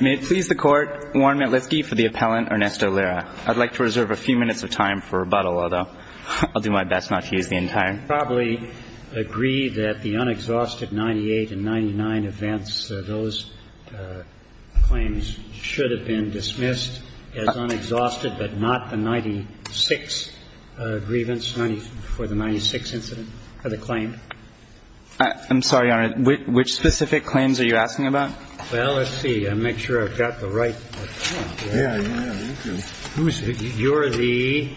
May it please the Court, Warren Metlisky for the appellant Ernesto Lira. I'd like to reserve a few minutes of time for rebuttal, although I'll do my best not to use the entire. I probably agree that the unexhausted 98 and 99 events, those claims should have been dismissed as unexhausted, but not the 96 grievance for the 96 incident, for the claim. I'm sorry, Your Honor, which specific claims are you asking about? Well, let's see. I'll make sure I've got the right. Yeah, yeah, you do. You're the,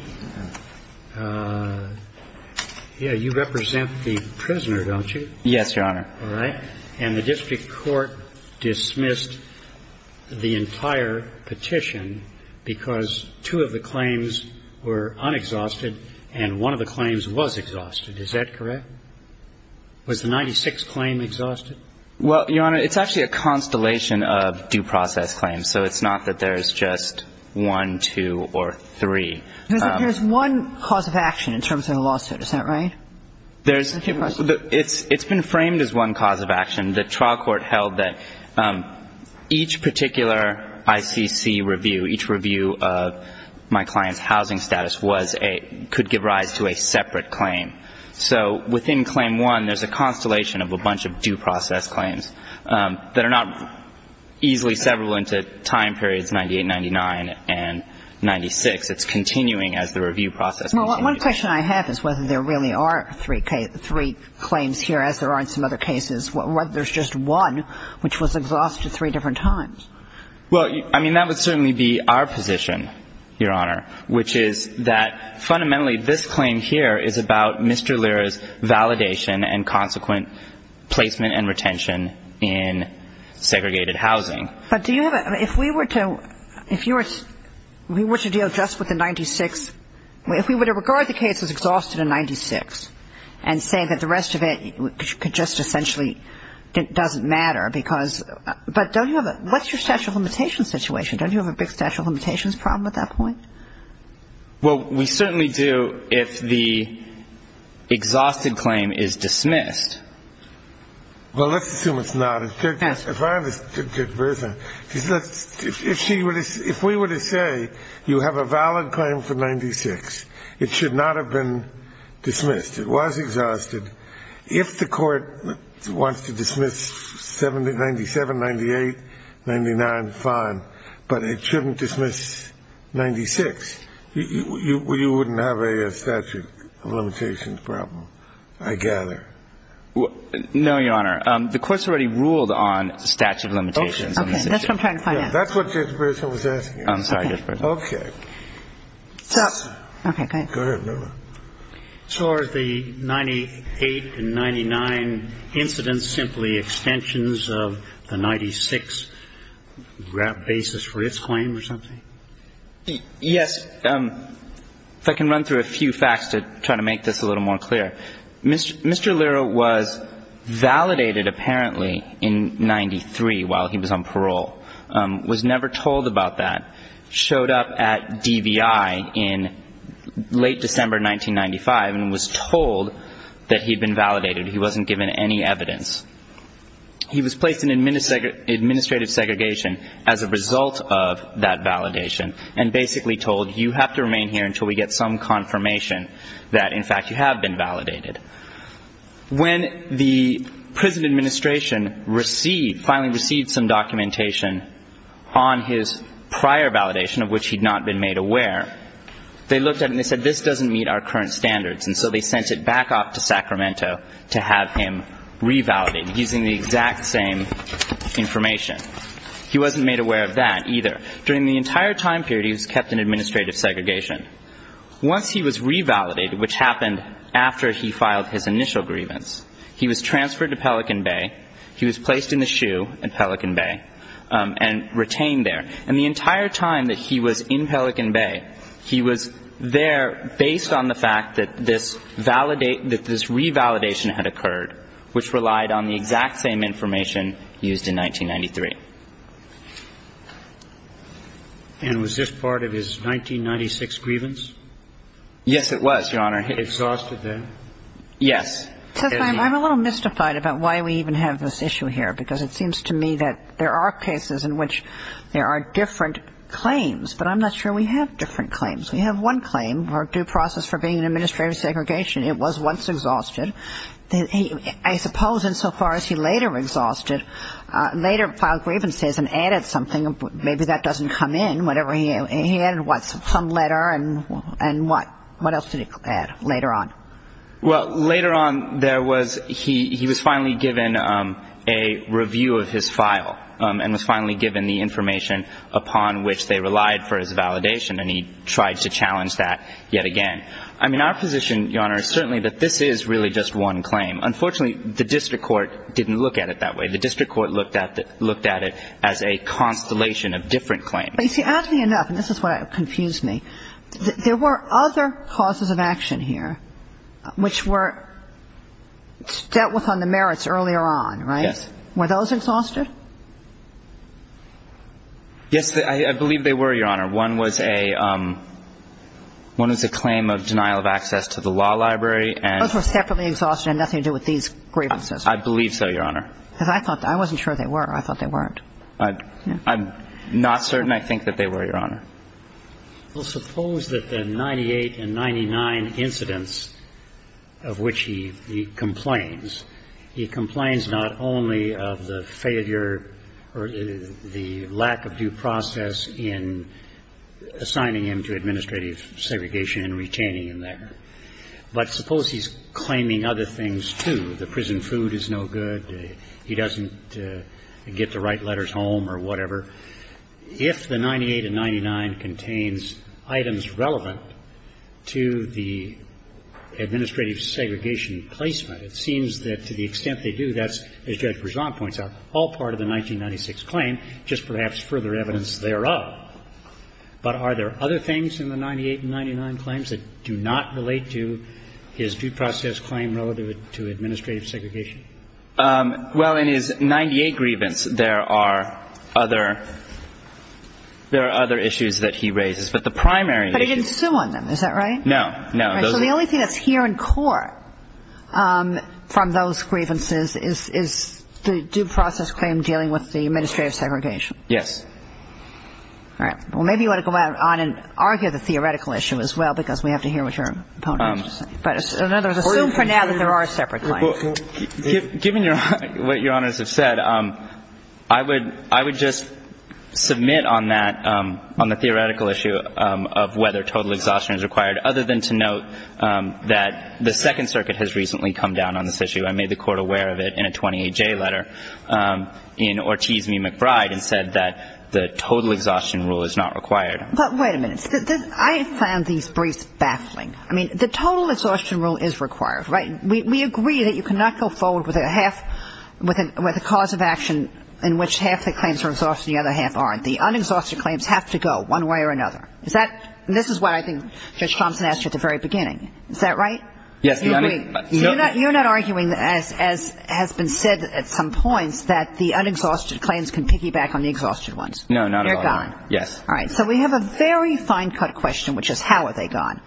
yeah, you represent the prisoner, don't you? Yes, Your Honor. All right. And the district court dismissed the entire petition because two of the claims were unexhausted and one of the claims was exhausted. Is that correct? Was the 96 claim exhausted? Well, Your Honor, it's actually a constellation of due process claims, so it's not that there's just one, two, or three. There's one cause of action in terms of the lawsuit. Is that right? There's, it's been framed as one cause of action. The trial court held that each particular ICC review, each review of my client's housing status was a, could give rise to a separate claim. So within claim one, there's a constellation of a bunch of due process claims that are not easily severable into time periods 98, 99, and 96. It's continuing as the review process continues. Well, one question I have is whether there really are three claims here, as there are in some other cases, whether there's just one which was exhausted three different times. Well, I mean, that would certainly be our position, Your Honor, which is that fundamentally this claim here is about Mr. Lira's validation and consequent placement and retention in segregated housing. But do you have a, if we were to, if you were, we were to deal just with the 96, if we were to regard the case as exhausted in 96 and say that the rest of it could just essentially, it doesn't matter because, but don't you have a, what's your statute of limitations situation? Don't you have a big statute of limitations problem at that point? Well, we certainly do if the exhausted claim is dismissed. Well, let's assume it's not. Yes. If we were to say you have a valid claim for 96, it should not have been dismissed. It was exhausted. If the Court wants to dismiss 97, 98, 99, fine, but it shouldn't dismiss 96. You wouldn't have a statute of limitations problem, I gather. No, Your Honor. The Court's already ruled on statute of limitations on this issue. Okay. That's what I'm trying to find out. That's what Judge Berger was asking. I'm sorry, Judge Berger. Okay. Okay. Go ahead, Lira. So are the 98 and 99 incidents simply extensions of the 96 basis for its claim or something? Yes. If I can run through a few facts to try to make this a little more clear. Mr. Lira was validated apparently in 93 while he was on parole, was never told about that, showed up at DVI in late December 1995 and was told that he had been validated. He wasn't given any evidence. He was placed in administrative segregation as a result of that validation and basically told you have to remain here until we get some confirmation that, in fact, you have been validated. When the prison administration received, finally received some documentation on his prior validation, of which he'd not been made aware, they looked at it and they said this doesn't meet our current standards, and so they sent it back off to Sacramento to have him revalidated using the exact same information. He wasn't made aware of that either. During the entire time period, he was kept in administrative segregation. Once he was revalidated, which happened after he filed his initial grievance, he was transferred to Pelican Bay. He was placed in the SHU at Pelican Bay and retained there. And the entire time that he was in Pelican Bay, he was there based on the fact that this revalidation had occurred, which relied on the exact same information used in 1993. And was this part of his 1996 grievance? Yes, it was, Your Honor. Exhausted then? Yes. Justice, I'm a little mystified about why we even have this issue here, because it seems to me that there are cases in which there are different claims, but I'm not sure we have different claims. We have one claim, our due process for being in administrative segregation. It was once exhausted. I suppose insofar as he later exhausted, later filed grievances and added something. Maybe that doesn't come in. He added some letter and what? What else did he add later on? Well, later on, he was finally given a review of his file and was finally given the information upon which they relied for his validation, and he tried to challenge that yet again. I mean, our position, Your Honor, is certainly that this is really just one claim. Unfortunately, the district court didn't look at it that way. The district court looked at it as a constellation of different claims. But you see, oddly enough, and this is what confused me, there were other causes of action here which were dealt with on the merits earlier on, right? Yes. Were those exhausted? Yes, I believe they were, Your Honor. One was a claim of denial of access to the law library. Those were separately exhausted and had nothing to do with these grievances. I believe so, Your Honor. I wasn't sure they were. I thought they weren't. I'm not certain I think that they were, Your Honor. Well, suppose that the 98 and 99 incidents of which he complains, he complains not only of the failure or the lack of due process in assigning him to administrative segregation and retaining him there. But suppose he's claiming other things, too. The prison food is no good. He doesn't get the right letters home or whatever. If the 98 and 99 contains items relevant to the administrative segregation placement, it seems that to the extent they do, that's, as Judge Berzon points out, all part of the 1996 claim, just perhaps further evidence thereof. But are there other things in the 98 and 99 claims that do not relate to his due process claim relative to administrative segregation? Well, in his 98 grievance, there are other issues that he raises. But the primary issue is that he didn't sue on them. Is that right? No, no. So the only thing that's here in court from those grievances is the due process claim dealing with the administrative segregation? Yes. All right. Well, maybe you want to go out on and argue the theoretical issue as well, because we have to hear what your opponent has to say. But in other words, assume for now that there are separate claims. Given what Your Honors have said, I would just submit on that, on the theoretical issue of whether total exhaustion is required, other than to note that the Second Circuit has recently come down on this issue. I made the court aware of it in a 28-J letter in Ortiz v. McBride and said that the total exhaustion rule is not required. But wait a minute. I have found these briefs baffling. I mean, the total exhaustion rule is required, right? We agree that you cannot go forward with a half, with a cause of action in which half the claims are exhausted and the other half aren't. The unexhausted claims have to go one way or another. This is what I think Judge Thompson asked you at the very beginning. Is that right? Yes. You agree. You're not arguing, as has been said at some points, that the unexhausted claims can piggyback on the exhausted ones. No, not at all. They're gone. Yes. All right. So we have a very fine-cut question, which is how are they gone?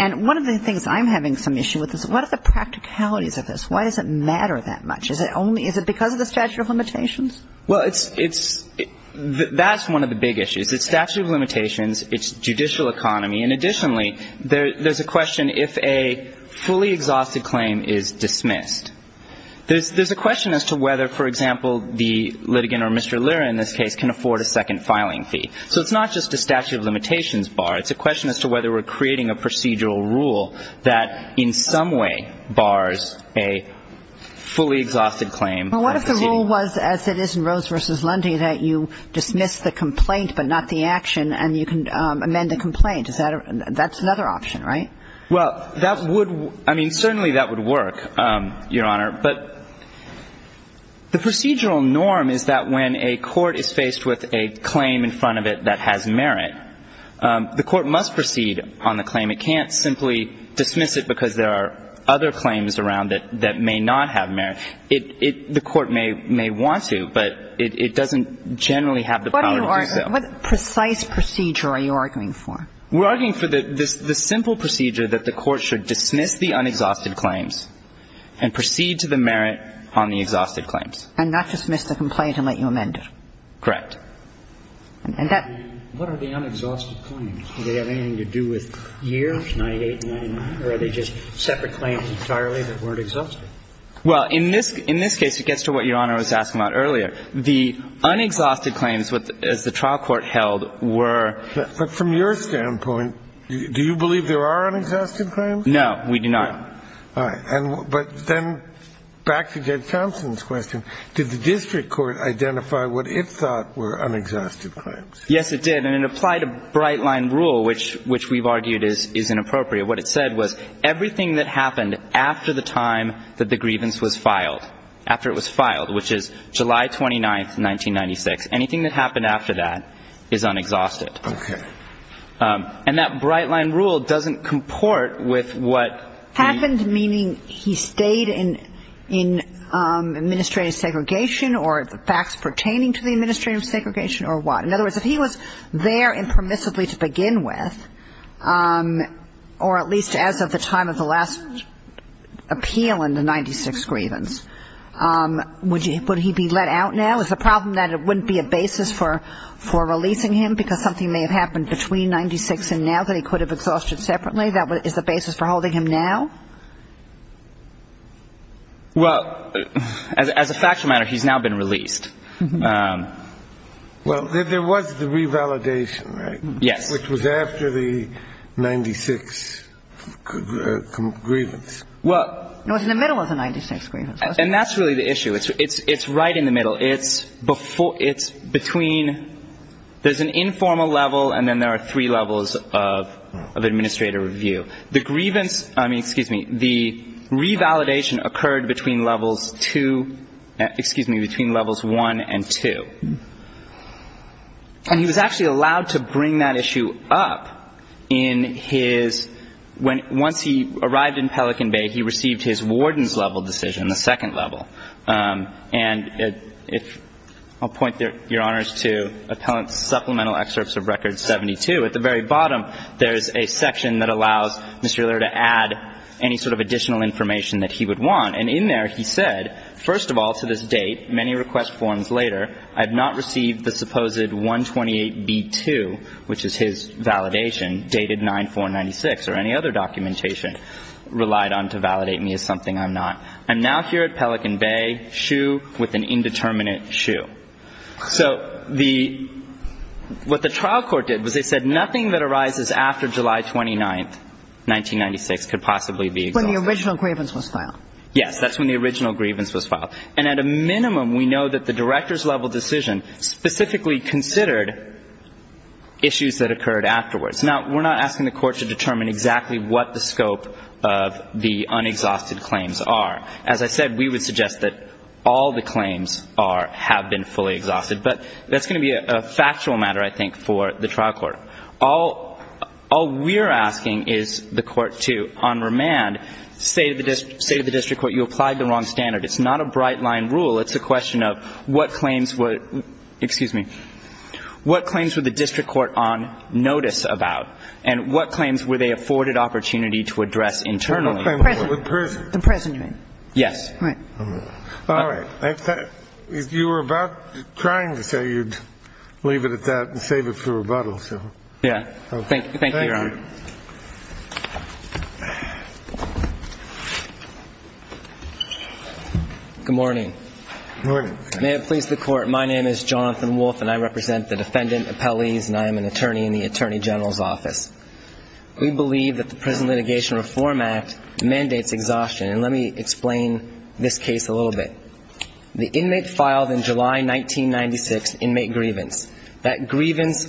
And one of the things I'm having some issue with is what are the practicalities of this? Why does it matter that much? Is it because of the statute of limitations? Well, it's – that's one of the big issues. It's statute of limitations. It's judicial economy. And additionally, there's a question if a fully exhausted claim is dismissed. There's a question as to whether, for example, the litigant or Mr. Lyra in this case can afford a second filing fee. So it's not just a statute of limitations bar. It's a question as to whether we're creating a procedural rule that in some way bars a fully exhausted claim. Well, what if the rule was, as it is in Rose v. Lundy, that you dismiss the complaint but not the action and you can amend the complaint? Is that – that's another option, right? Well, that would – I mean, certainly that would work, Your Honor. But the procedural norm is that when a court is faced with a claim in front of it that has merit, the court must proceed on the claim. It can't simply dismiss it because there are other claims around it that may not have merit. The court may want to, but it doesn't generally have the power to do so. What are you arguing? What precise procedure are you arguing for? We're arguing for the simple procedure that the court should dismiss the unexhausted claims and proceed to the merit on the exhausted claims. And not dismiss the complaint and let you amend it. Correct. And that – What are the unexhausted claims? Do they have anything to do with years, 98 and 99? Or are they just separate claims entirely that weren't exhausted? Well, in this – in this case, it gets to what Your Honor was asking about earlier. The unexhausted claims, as the trial court held, were – But from your standpoint, do you believe there are unexhausted claims? No, we do not. All right. But then back to Judge Thompson's question. Did the district court identify what it thought were unexhausted claims? Yes, it did. And it applied a bright-line rule, which we've argued is inappropriate. What it said was everything that happened after the time that the grievance was filed, after it was filed, which is July 29th, 1996, anything that happened after that is unexhausted. Okay. And that bright-line rule doesn't comport with what the – Happened, meaning he stayed in administrative segregation or facts pertaining to the administrative segregation or what? In other words, if he was there impermissibly to begin with, or at least as of the time of the last appeal in the 1996 grievance, would he be let out now? Is the problem that it wouldn't be a basis for releasing him because something may have happened between 1996 and now that he could have exhausted separately? That is the basis for holding him now? Well, as a factual matter, he's now been released. Well, there was the revalidation, right? Yes. Which was after the 1996 grievance. It was in the middle of the 1996 grievance. And that's really the issue. It's right in the middle. It's between – there's an informal level and then there are three levels of administrative review. The grievance – I mean, excuse me. The revalidation occurred between levels two – excuse me, between levels one and two. And he was actually allowed to bring that issue up in his – once he arrived in Pelican Bay, he received his warden's level decision, the second level. And if – I'll point your honors to Appellant's supplemental excerpts of Record 72. At the very bottom, there's a section that allows Mr. Euler to add any sort of additional information that he would want. And in there, he said, first of all, to this date, many request forms later, I have not received the supposed 128B2, which is his validation, dated 9-4-96, or any other documentation relied on to validate me as something I'm not. I'm now here at Pelican Bay, shoe with an indeterminate shoe. So the – what the trial court did was they said nothing that arises after July 29, 1996, could possibly be exhausted. When the original grievance was filed. Yes. That's when the original grievance was filed. And at a minimum, we know that the director's level decision specifically considered issues that occurred afterwards. Now, we're not asking the court to determine exactly what the scope of the unexhausted claims are. As I said, we would suggest that all the claims are – have been fully exhausted. But that's going to be a factual matter, I think, for the trial court. All we're asking is the court to, on remand, say to the district court, you applied the wrong standard. It's not a bright-line rule. It's a question of what claims would – excuse me. What claims would the district court on notice about? And what claims were they afforded opportunity to address internally? The prison claim. The prison claim. Yes. Right. All right. If you were about trying to say, you'd leave it at that and save it for rebuttal, so. Yeah. Thank you, Your Honor. Thank you. Good morning. Good morning. May it please the Court. My name is Jonathan Wolfe, and I represent the defendant appellees, and I am an attorney in the Attorney General's office. We believe that the Prison Litigation Reform Act mandates exhaustion. And let me explain this case a little bit. The inmate filed in July 1996 inmate grievance. That grievance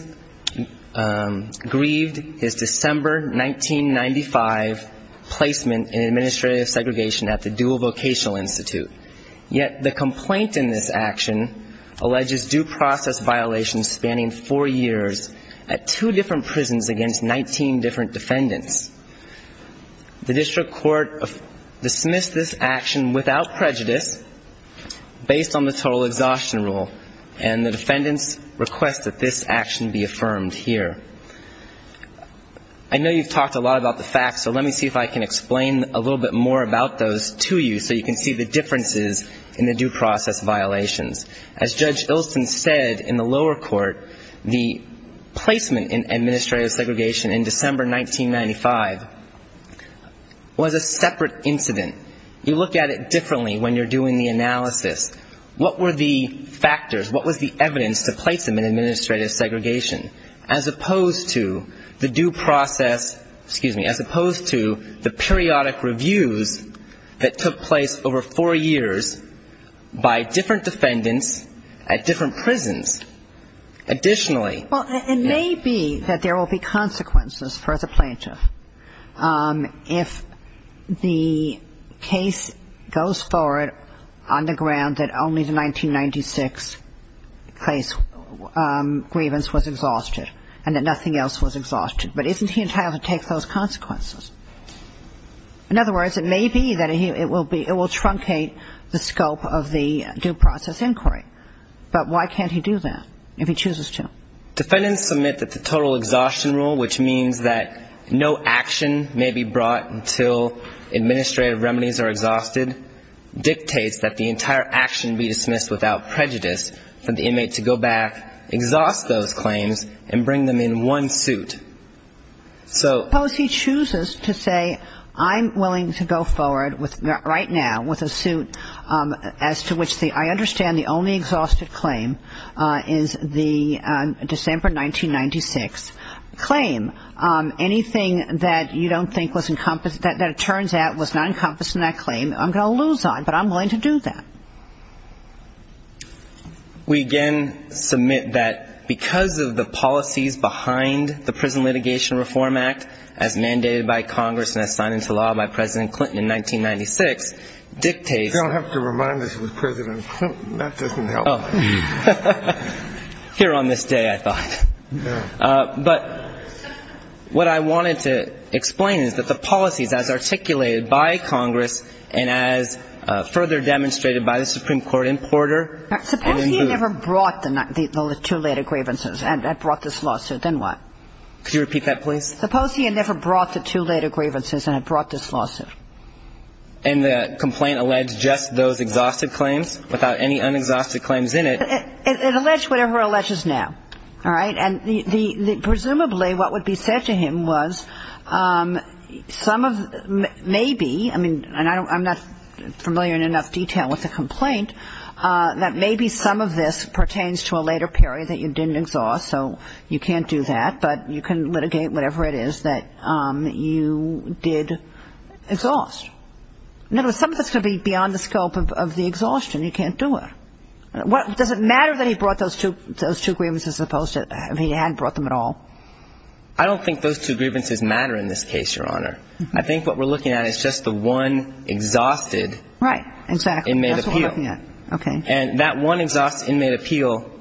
grieved his December 1995 placement in administrative segregation at the Dual Vocational Institute. Yet the complaint in this action alleges due process violations spanning four years at two different prisons against 19 different defendants. The district court dismissed this action without prejudice based on the total exhaustion rule, and the defendants request that this action be affirmed here. I know you've talked a lot about the facts, so let me see if I can explain a little bit more about those to you so you can see the differences in the due process violations. As Judge Ilsen said in the lower court, the placement in administrative segregation in December 1995 was a separate incident. You look at it differently when you're doing the analysis. What were the factors, what was the evidence to place them in administrative segregation as opposed to the due process, excuse me, as opposed to the periodic reviews that took place over four years by different defendants at different prisons? Additionally. Well, it may be that there will be consequences for the plaintiff. The defendant found that only the 1996 case grievance was exhausted, and that nothing else was exhausted. But isn't he entitled to take those consequences? In other words, it may be that it will truncate the scope of the due process inquiry, but why can't he do that if he chooses to? Defendants submit that the total exhaustion rule, which means that no action may be brought until administrative remedies are exhausted, dictates that the entire action be dismissed without prejudice for the inmate to go back, exhaust those claims, and bring them in one suit. Suppose he chooses to say I'm willing to go forward right now with a suit as to which I understand the only exhausted claim is the December 1996 claim. Anything that you don't think was encompassed, that it turns out was not encompassed in that claim, I'm going to lose on, but I'm willing to do that. We again submit that because of the policies behind the Prison Litigation Reform Act, as mandated by Congress and as signed into law by President Clinton in 1996, dictates that... What I wanted to explain is that the policies as articulated by Congress and as further demonstrated by the Supreme Court in Porter... Suppose he had never brought the two later grievances and had brought this lawsuit, then what? Could you repeat that, please? Suppose he had never brought the two later grievances and had brought this lawsuit. And the complaint alleged just those exhausted claims without any unexhausted claims in it? It alleged whatever it alleges now, all right? And presumably what would be said to him was some of maybe, I mean, and I'm not familiar in enough detail with the complaint, that maybe some of this pertains to a later period that you didn't exhaust, so you can't do that, but you can litigate whatever it is that you did exhaust. In other words, some of this could be beyond the scope of the exhaustion. You can't do it. Does it matter that he brought those two grievances as opposed to if he hadn't brought them at all? I don't think those two grievances matter in this case, Your Honor. I think what we're looking at is just the one exhausted inmate appeal. Right. Exactly. That's what we're looking at. Okay. And that one exhausted inmate appeal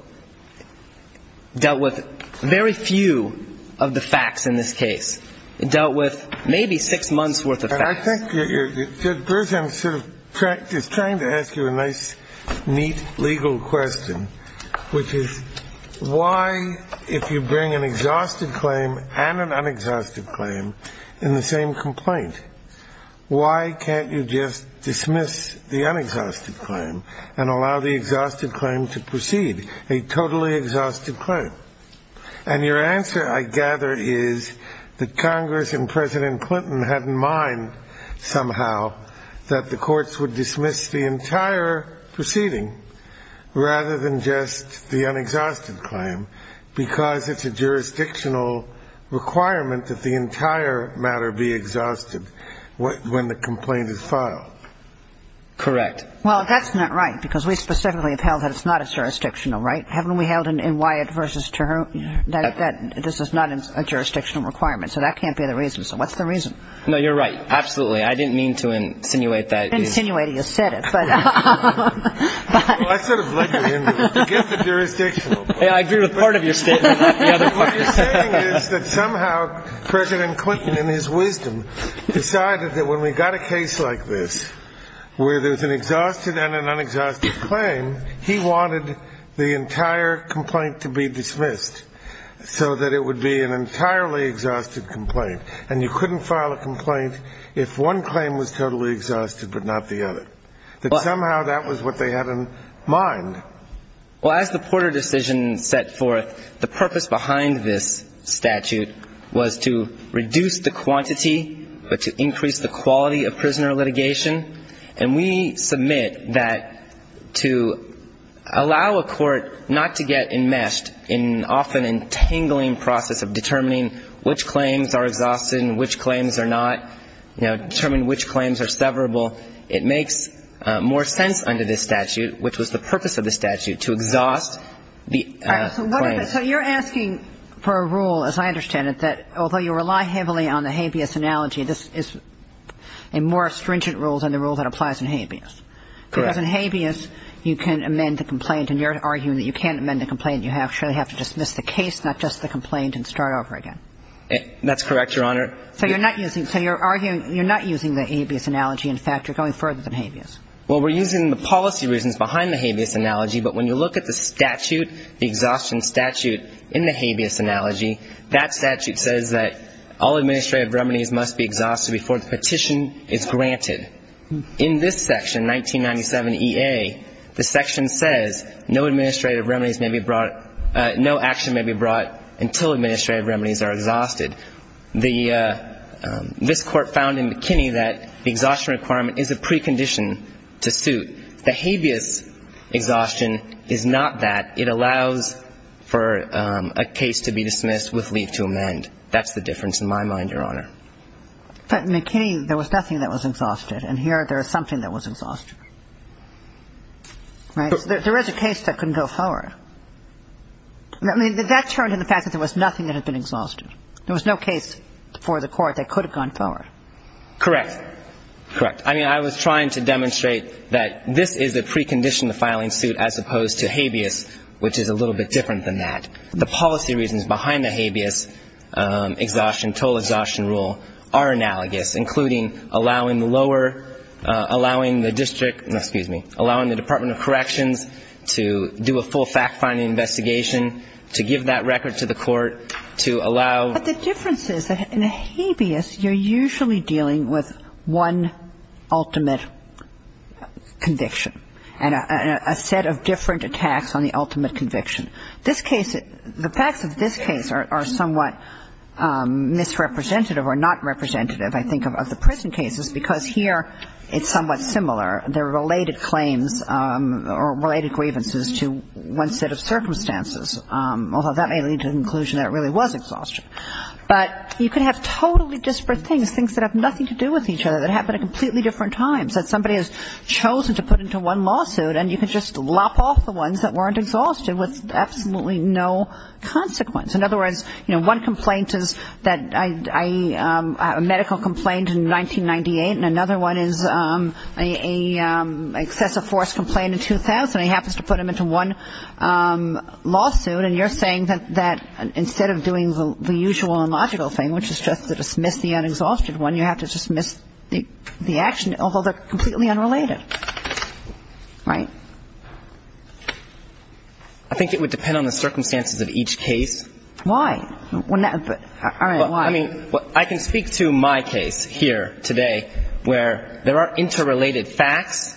dealt with very few of the facts in this case. It dealt with maybe six months' worth of facts. And I think Judge Bergen is trying to ask you a nice, neat legal question, which is why, if you bring an exhausted claim and an unexhausted claim in the same complaint, why can't you just dismiss the unexhausted claim and allow the exhausted claim to proceed, a totally exhausted claim? And your answer, I gather, is that Congress and President Clinton had in mind somehow that the courts would dismiss the entire proceeding rather than just the unexhausted claim because it's a jurisdictional requirement that the entire matter be exhausted when the complaint is filed. Correct. Well, that's not right, because we specifically have held that it's not a jurisdictional right. Haven't we held in Wyatt v. Turner that this is not a jurisdictional requirement? So that can't be the reason. So what's the reason? No, you're right. Absolutely. I didn't mean to insinuate that. Well, I sort of led you into it. Forget the jurisdictional part. What you're saying is that somehow President Clinton in his wisdom decided that when we got a case like this where there's an exhausted and an unexhausted claim, he wanted the entire complaint to be dismissed so that it would be an entirely exhausted complaint, and you couldn't file a complaint if one claim was totally exhausted but not the other, that somehow that was what they had in mind. Well, as the Porter decision set forth, the purpose behind this statute was to reduce the quantity but to increase the quality of prisoner litigation, and we submit that to allow a court not to get enmeshed in often entangling process of determining which claims are exhausted and which claims are not, you know, determine which claims are severable. It makes more sense under this statute, which was the purpose of the statute, to exhaust the claims. So you're asking for a rule, as I understand it, that although you rely heavily on the habeas analogy, this is a more stringent rule than the rule that applies in habeas. Correct. Because in habeas, you can amend the complaint, and you're arguing that you can't amend the complaint. You actually have to dismiss the case, not just the complaint, and start over again. That's correct, Your Honor. So you're not using the habeas analogy. In fact, you're going further than habeas. Well, we're using the policy reasons behind the habeas analogy, but when you look at the statute, the exhaustion statute in the habeas analogy, that statute says that all administrative remedies must be exhausted before the petition is granted. In this section, 1997 E.A., the section says no administrative remedies may be brought no action may be brought until administrative remedies are exhausted. This Court found in McKinney that the exhaustion requirement is a precondition to suit. The habeas exhaustion is not that. It allows for a case to be dismissed with leave to amend. That's the difference in my mind, Your Honor. But McKinney, there was nothing that was exhausted, and here there is something that was exhausted. Right? There is a case that can go forward. I mean, that turned into the fact that there was nothing that had been exhausted. There was no case for the Court that could have gone forward. Correct. Correct. I mean, I was trying to demonstrate that this is a precondition to filing suit as opposed to habeas, which is a little bit different than that. The policy reasons behind the habeas exhaustion, total exhaustion rule, are analogous, including allowing the lower, allowing the district, excuse me, allowing the Department of Corrections to do a full fact-finding investigation, to give that record to the Court, to allow ---- But the difference is that in a habeas, you're usually dealing with one ultimate conviction and a set of different attacks on the ultimate conviction. This case, the facts of this case are somewhat misrepresentative or not representative, I think, of the prison cases because here it's somewhat similar. There are related claims or related grievances to one set of circumstances, although that may lead to the conclusion that it really was exhaustion. But you can have totally disparate things, things that have nothing to do with each other, that happen at completely different times, that somebody has chosen to put into one lawsuit and you can just lop off the ones that weren't exhausted with absolutely no consequence. In other words, you know, one complaint is that I have a medical complaint in 1998 and another one is an excessive force complaint in 2000. He happens to put them into one lawsuit and you're saying that instead of doing the usual and logical thing, which is just to dismiss the unexhausted one, you have to dismiss the action, although they're completely unrelated, right? I think it would depend on the circumstances of each case. Why? I mean, I can speak to my case here today where there are interrelated facts.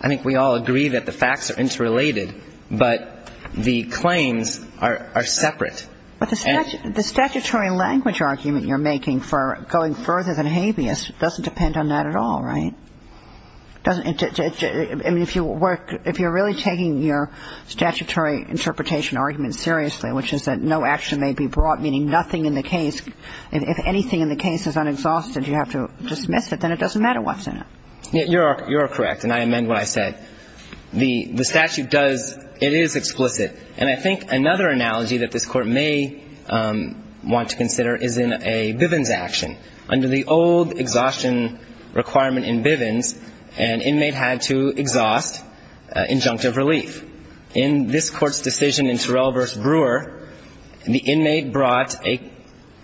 I think we all agree that the facts are interrelated, but the claims are separate. But the statutory language argument you're making for going further than habeas doesn't depend on that at all, right? I mean, if you're really taking your statutory interpretation argument seriously, which is that no action may be brought, meaning nothing in the case, if anything in the case is unexhausted you have to dismiss it, then it doesn't matter what's in it. You're correct, and I amend what I said. The statute does, it is explicit. And I think another analogy that this Court may want to consider is in a Bivens action. Under the old exhaustion requirement in Bivens, an inmate had to exhaust injunctive relief. In this Court's decision in Terrell v. Brewer, the inmate brought an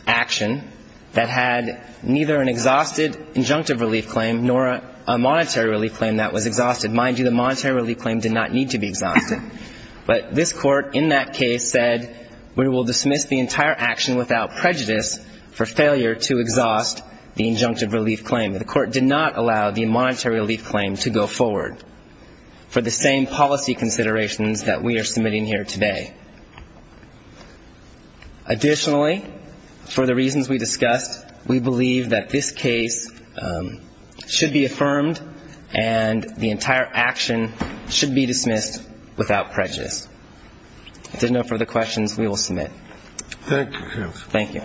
action that had neither an exhausted injunctive relief claim nor a monetary relief claim that was exhausted. Mind you, the monetary relief claim did not need to be exhausted. But this Court in that case said we will dismiss the entire action without prejudice for failure to exhaust the injunctive relief claim. The Court did not allow the monetary relief claim to go forward for the same policy considerations that we are submitting here today. Additionally, for the reasons we discussed, we believe that this case should be affirmed and the entire action should be dismissed without prejudice. If there are no further questions, we will submit. Thank you, counsel. Thank you.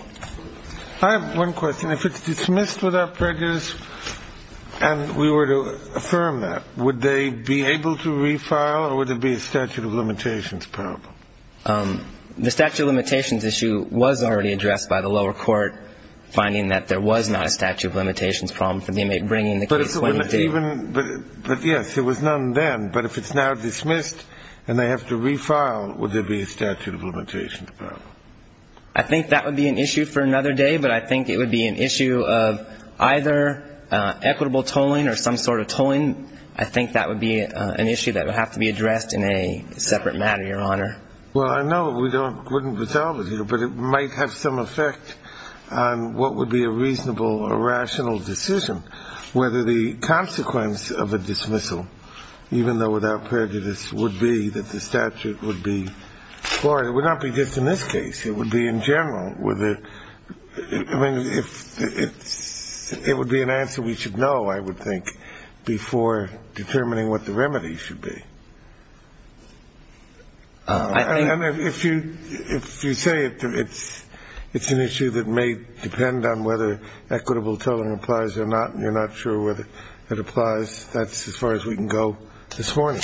I have one question. If it's dismissed without prejudice and we were to affirm that, would they be able to refile or would there be a statute of limitations problem? The statute of limitations issue was already addressed by the lower court, finding that there was not a statute of limitations problem for the inmate bringing the case when he did. But, yes, there was none then. But if it's now dismissed and they have to refile, would there be a statute of limitations problem? I think that would be an issue for another day, but I think it would be an issue of either equitable tolling or some sort of tolling. I think that would be an issue that would have to be addressed in a separate matter, Your Honor. Well, I know we wouldn't resolve it here, but it might have some effect on what would be a reasonable or rational decision, whether the consequence of a dismissal, even though without prejudice, would be that the statute would be floored. It would not be just in this case. It would be in general. It would be an answer we should know, I would think, before determining what the remedy should be. And if you say it's an issue that may depend on whether equitable tolling applies or not, and you're not sure whether it applies, that's as far as we can go this morning.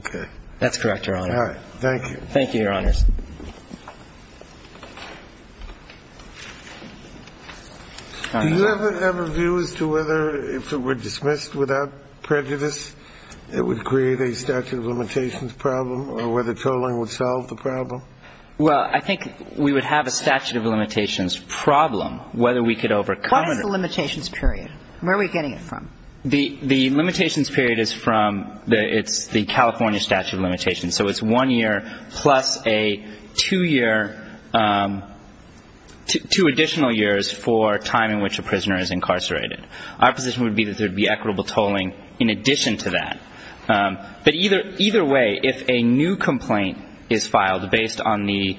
Okay. That's correct, Your Honor. All right. Thank you. Thank you, Your Honors. Do you ever have a view as to whether, if it were dismissed without prejudice, it would create a statute of limitations problem or whether tolling would solve the problem? Well, I think we would have a statute of limitations problem, whether we could overcome it. What is the limitations period? Where are we getting it from? The limitations period is from the California statute of limitations. So it's one year plus two additional years for time in which a prisoner is incarcerated. Our position would be that there would be equitable tolling in addition to that. But either way, if a new complaint is filed based on the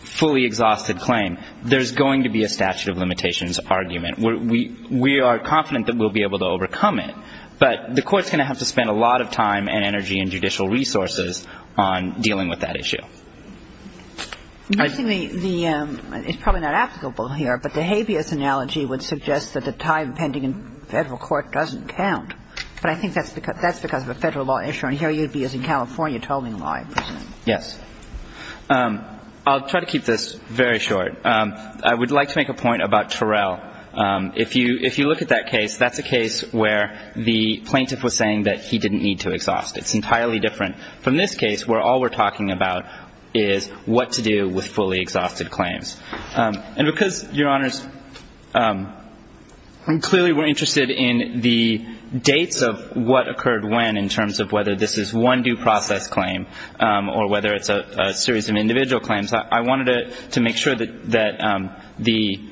fully exhausted claim, there's going to be a statute of limitations argument. We are confident that we'll be able to overcome it. But the court's going to have to spend a lot of time and energy and judicial resources on dealing with that issue. It's probably not applicable here, but the habeas analogy would suggest that the time pending in federal court doesn't count. But I think that's because of a federal law issue, and here you'd be using California tolling law in prison. Yes. I'll try to keep this very short. I would like to make a point about Terrell. If you look at that case, that's a case where the plaintiff was saying that he didn't need to exhaust. It's entirely different from this case where all we're talking about is what to do with fully exhausted claims. And because, Your Honors, clearly we're interested in the dates of what occurred when, in terms of whether this is one due process claim or whether it's a series of individual claims, I wanted to make sure that the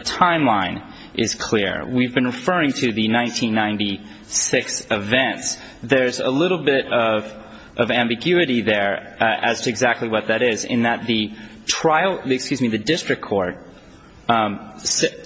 timeline is clear. We've been referring to the 1996 events. There's a little bit of ambiguity there as to exactly what that is, in that the district court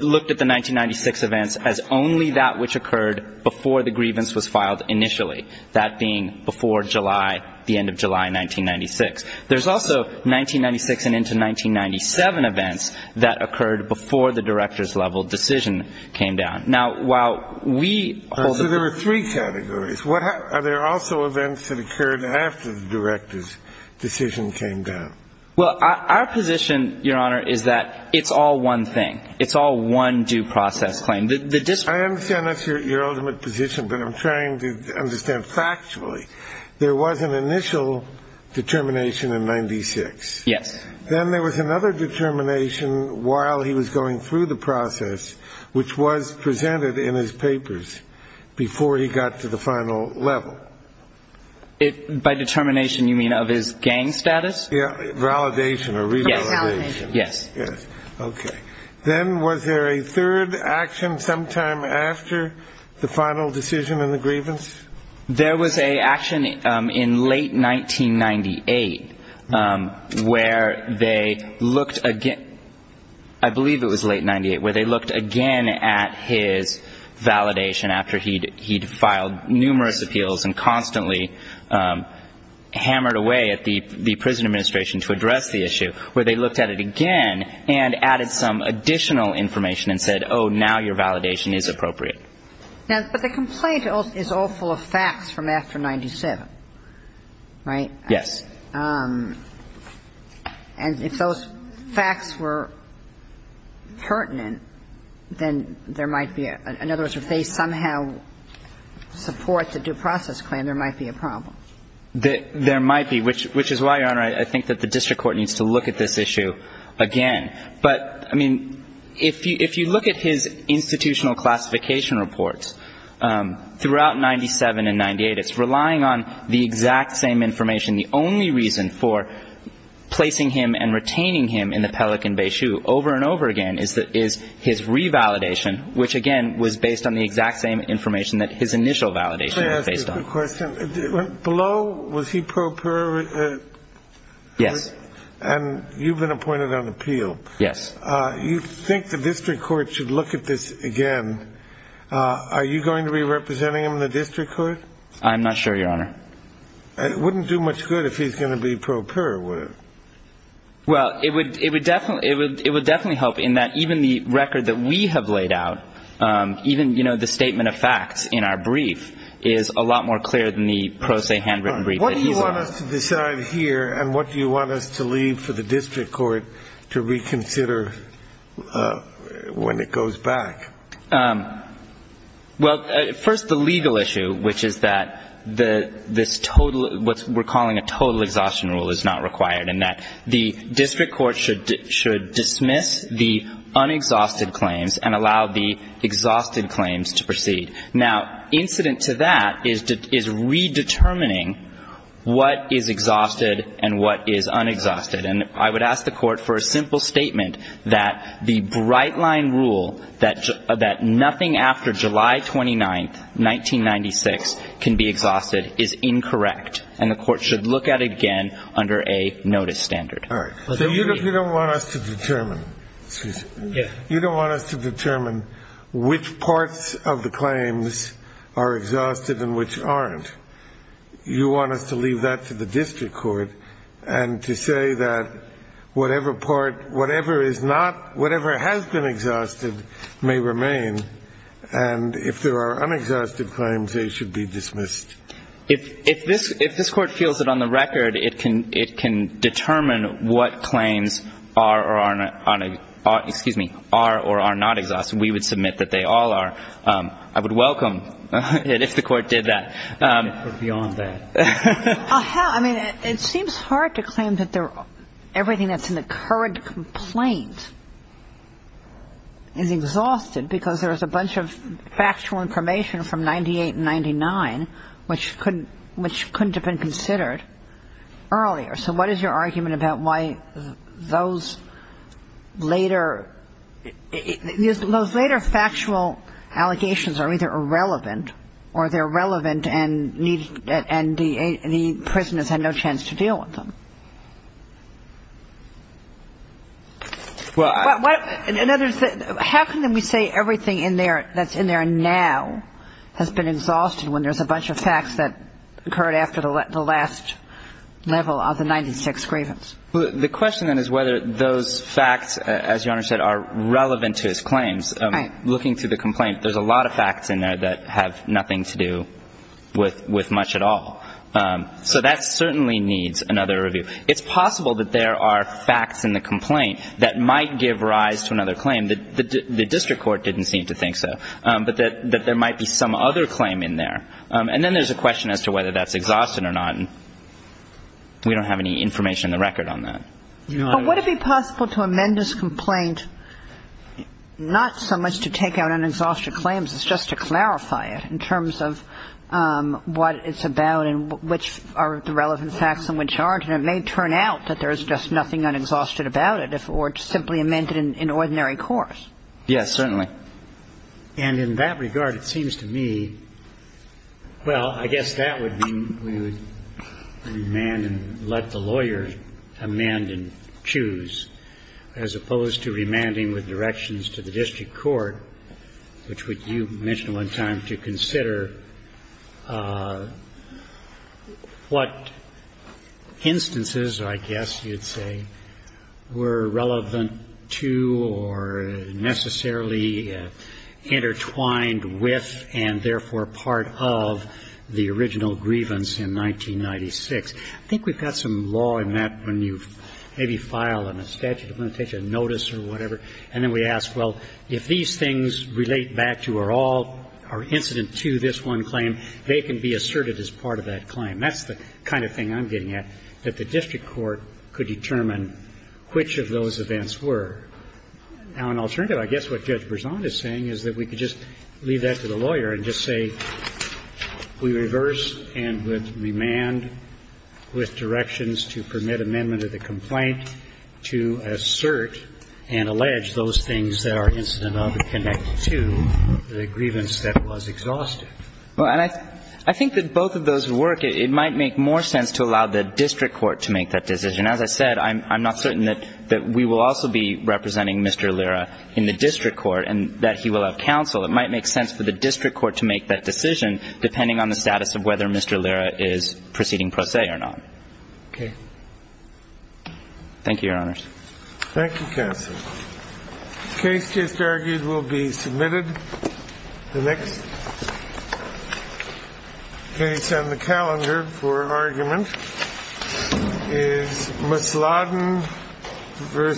looked at the 1996 events as only that which occurred before the grievance was filed initially, that being before the end of July 1996. There's also 1996 and into 1997 events that occurred before the director's level decision came down. Now, while we hold the ---- So there are three categories. Are there also events that occurred after the director's decision came down? Well, our position, Your Honor, is that it's all one thing. It's all one due process claim. The district ---- I understand that's your ultimate position, but I'm trying to understand factually. There was an initial determination in 96. Yes. Then there was another determination while he was going through the process, which was presented in his papers before he got to the final level. By determination, you mean of his gang status? Validation or revalidation. Yes. Okay. Then was there a third action sometime after the final decision in the grievance? There was an action in late 1998 where they looked again ---- I believe it was late 98, where they looked again at his validation after he'd filed numerous appeals and constantly hammered away at the prison administration to address the issue, where they looked at it again and added some additional information and said, oh, now your validation is appropriate. Now, but the complaint is all full of facts from after 97, right? Yes. And if those facts were pertinent, then there might be a ---- in other words, if they somehow support the due process claim, there might be a problem. There might be, which is why, Your Honor, I think that the district court needs to look at this issue again. But, I mean, if you look at his institutional classification reports throughout 97 and 98, it's relying on the exact same information. The only reason for placing him and retaining him in the Pelican Bay Shoe over and over again is his revalidation, which, again, was based on the exact same information that his initial validation was based on. Let me ask you a question. Below, was he pro peri? Yes. And you've been appointed on appeal. Yes. You think the district court should look at this again. Are you going to be representing him in the district court? I'm not sure, Your Honor. It wouldn't do much good if he's going to be pro peri, would it? Well, it would definitely help in that even the record that we have laid out, even, you know, the statement of facts in our brief is a lot more clear than the pro se handwritten brief that he's on. What do you want us to decide here, and what do you want us to leave for the district court to reconsider when it goes back? Well, first the legal issue, which is that this total, what we're calling a total exhaustion rule is not required and that the district court should dismiss the unexhausted claims and allow the exhausted claims to proceed. Now, incident to that is redetermining what is exhausted and what is unexhausted. And I would ask the court for a simple statement that the bright-line rule that nothing after July 29th, 1996 can be exhausted is incorrect, and the court should look at it again under a notice standard. All right. So you don't want us to determine. Excuse me. Yes. You don't want us to determine which parts of the claims are exhausted and which aren't. You want us to leave that to the district court and to say that whatever part, whatever is not, whatever has been exhausted may remain, and if there are unexhausted claims, they should be dismissed. If this court feels that on the record it can determine what claims are or are not, excuse me, are or are not exhausted, we would submit that they all are. I would welcome it if the court did that. Beyond that. I mean, it seems hard to claim that everything that's in the current complaint is exhausted because there is a bunch of factual information from 1998 and 1999 which couldn't have been considered earlier. So what is your argument about why those later factual allegations are either irrelevant or they're relevant and the prisoners had no chance to deal with them? How can we say everything in there that's in there now has been exhausted when there's a bunch of facts that occurred after the last level of the 1996 grievance? Well, the question then is whether those facts, as Your Honor said, are relevant to his claims. Right. Looking through the complaint, there's a lot of facts in there that have nothing to do with much at all. So that certainly needs another review. It's possible that there are facts in the complaint that might give rise to another claim. The district court didn't seem to think so. But that there might be some other claim in there. And then there's a question as to whether that's exhausted or not. We don't have any information on the record on that. But would it be possible to amend this complaint not so much to take out unexhausted claims, it's just to clarify it in terms of what it's about and which are the relevant facts and which aren't. And it may turn out that there's just nothing unexhausted about it or simply amend it in ordinary course. Yes, certainly. And in that regard, it seems to me, well, I guess that would mean we would remand and let the lawyer amend and choose as opposed to remanding with directions to the district court, which would, you mentioned one time, to consider what instances, I guess you'd say, were relevant to or necessarily intertwined with and therefore part of the original grievance in 1996. I think we've got some law in that when you maybe file a statute of limitation and notice or whatever, and then we ask, well, if these things relate back to or all are incident to this one claim, they can be asserted as part of that claim. That's the kind of thing I'm getting at, that the district court could determine which of those events were. Now, an alternative, I guess what Judge Berzon is saying is that we could just leave that to the lawyer and just say we reverse and would remand with directions to permit amendment of the complaint to assert and allege those things that are incident of and connected to the grievance that was exhausted. Well, and I think that both of those work. It might make more sense to allow the district court to make that decision. As I said, I'm not certain that we will also be representing Mr. Lyra in the district court and that he will have counsel. It might make sense for the district court to make that decision depending on the status of whether Mr. Lyra is proceeding per se or not. Okay. Thank you, Your Honors. Thank you, Counsel. The case just argued will be submitted. The next case on the calendar for argument is Misladen v. Lyra.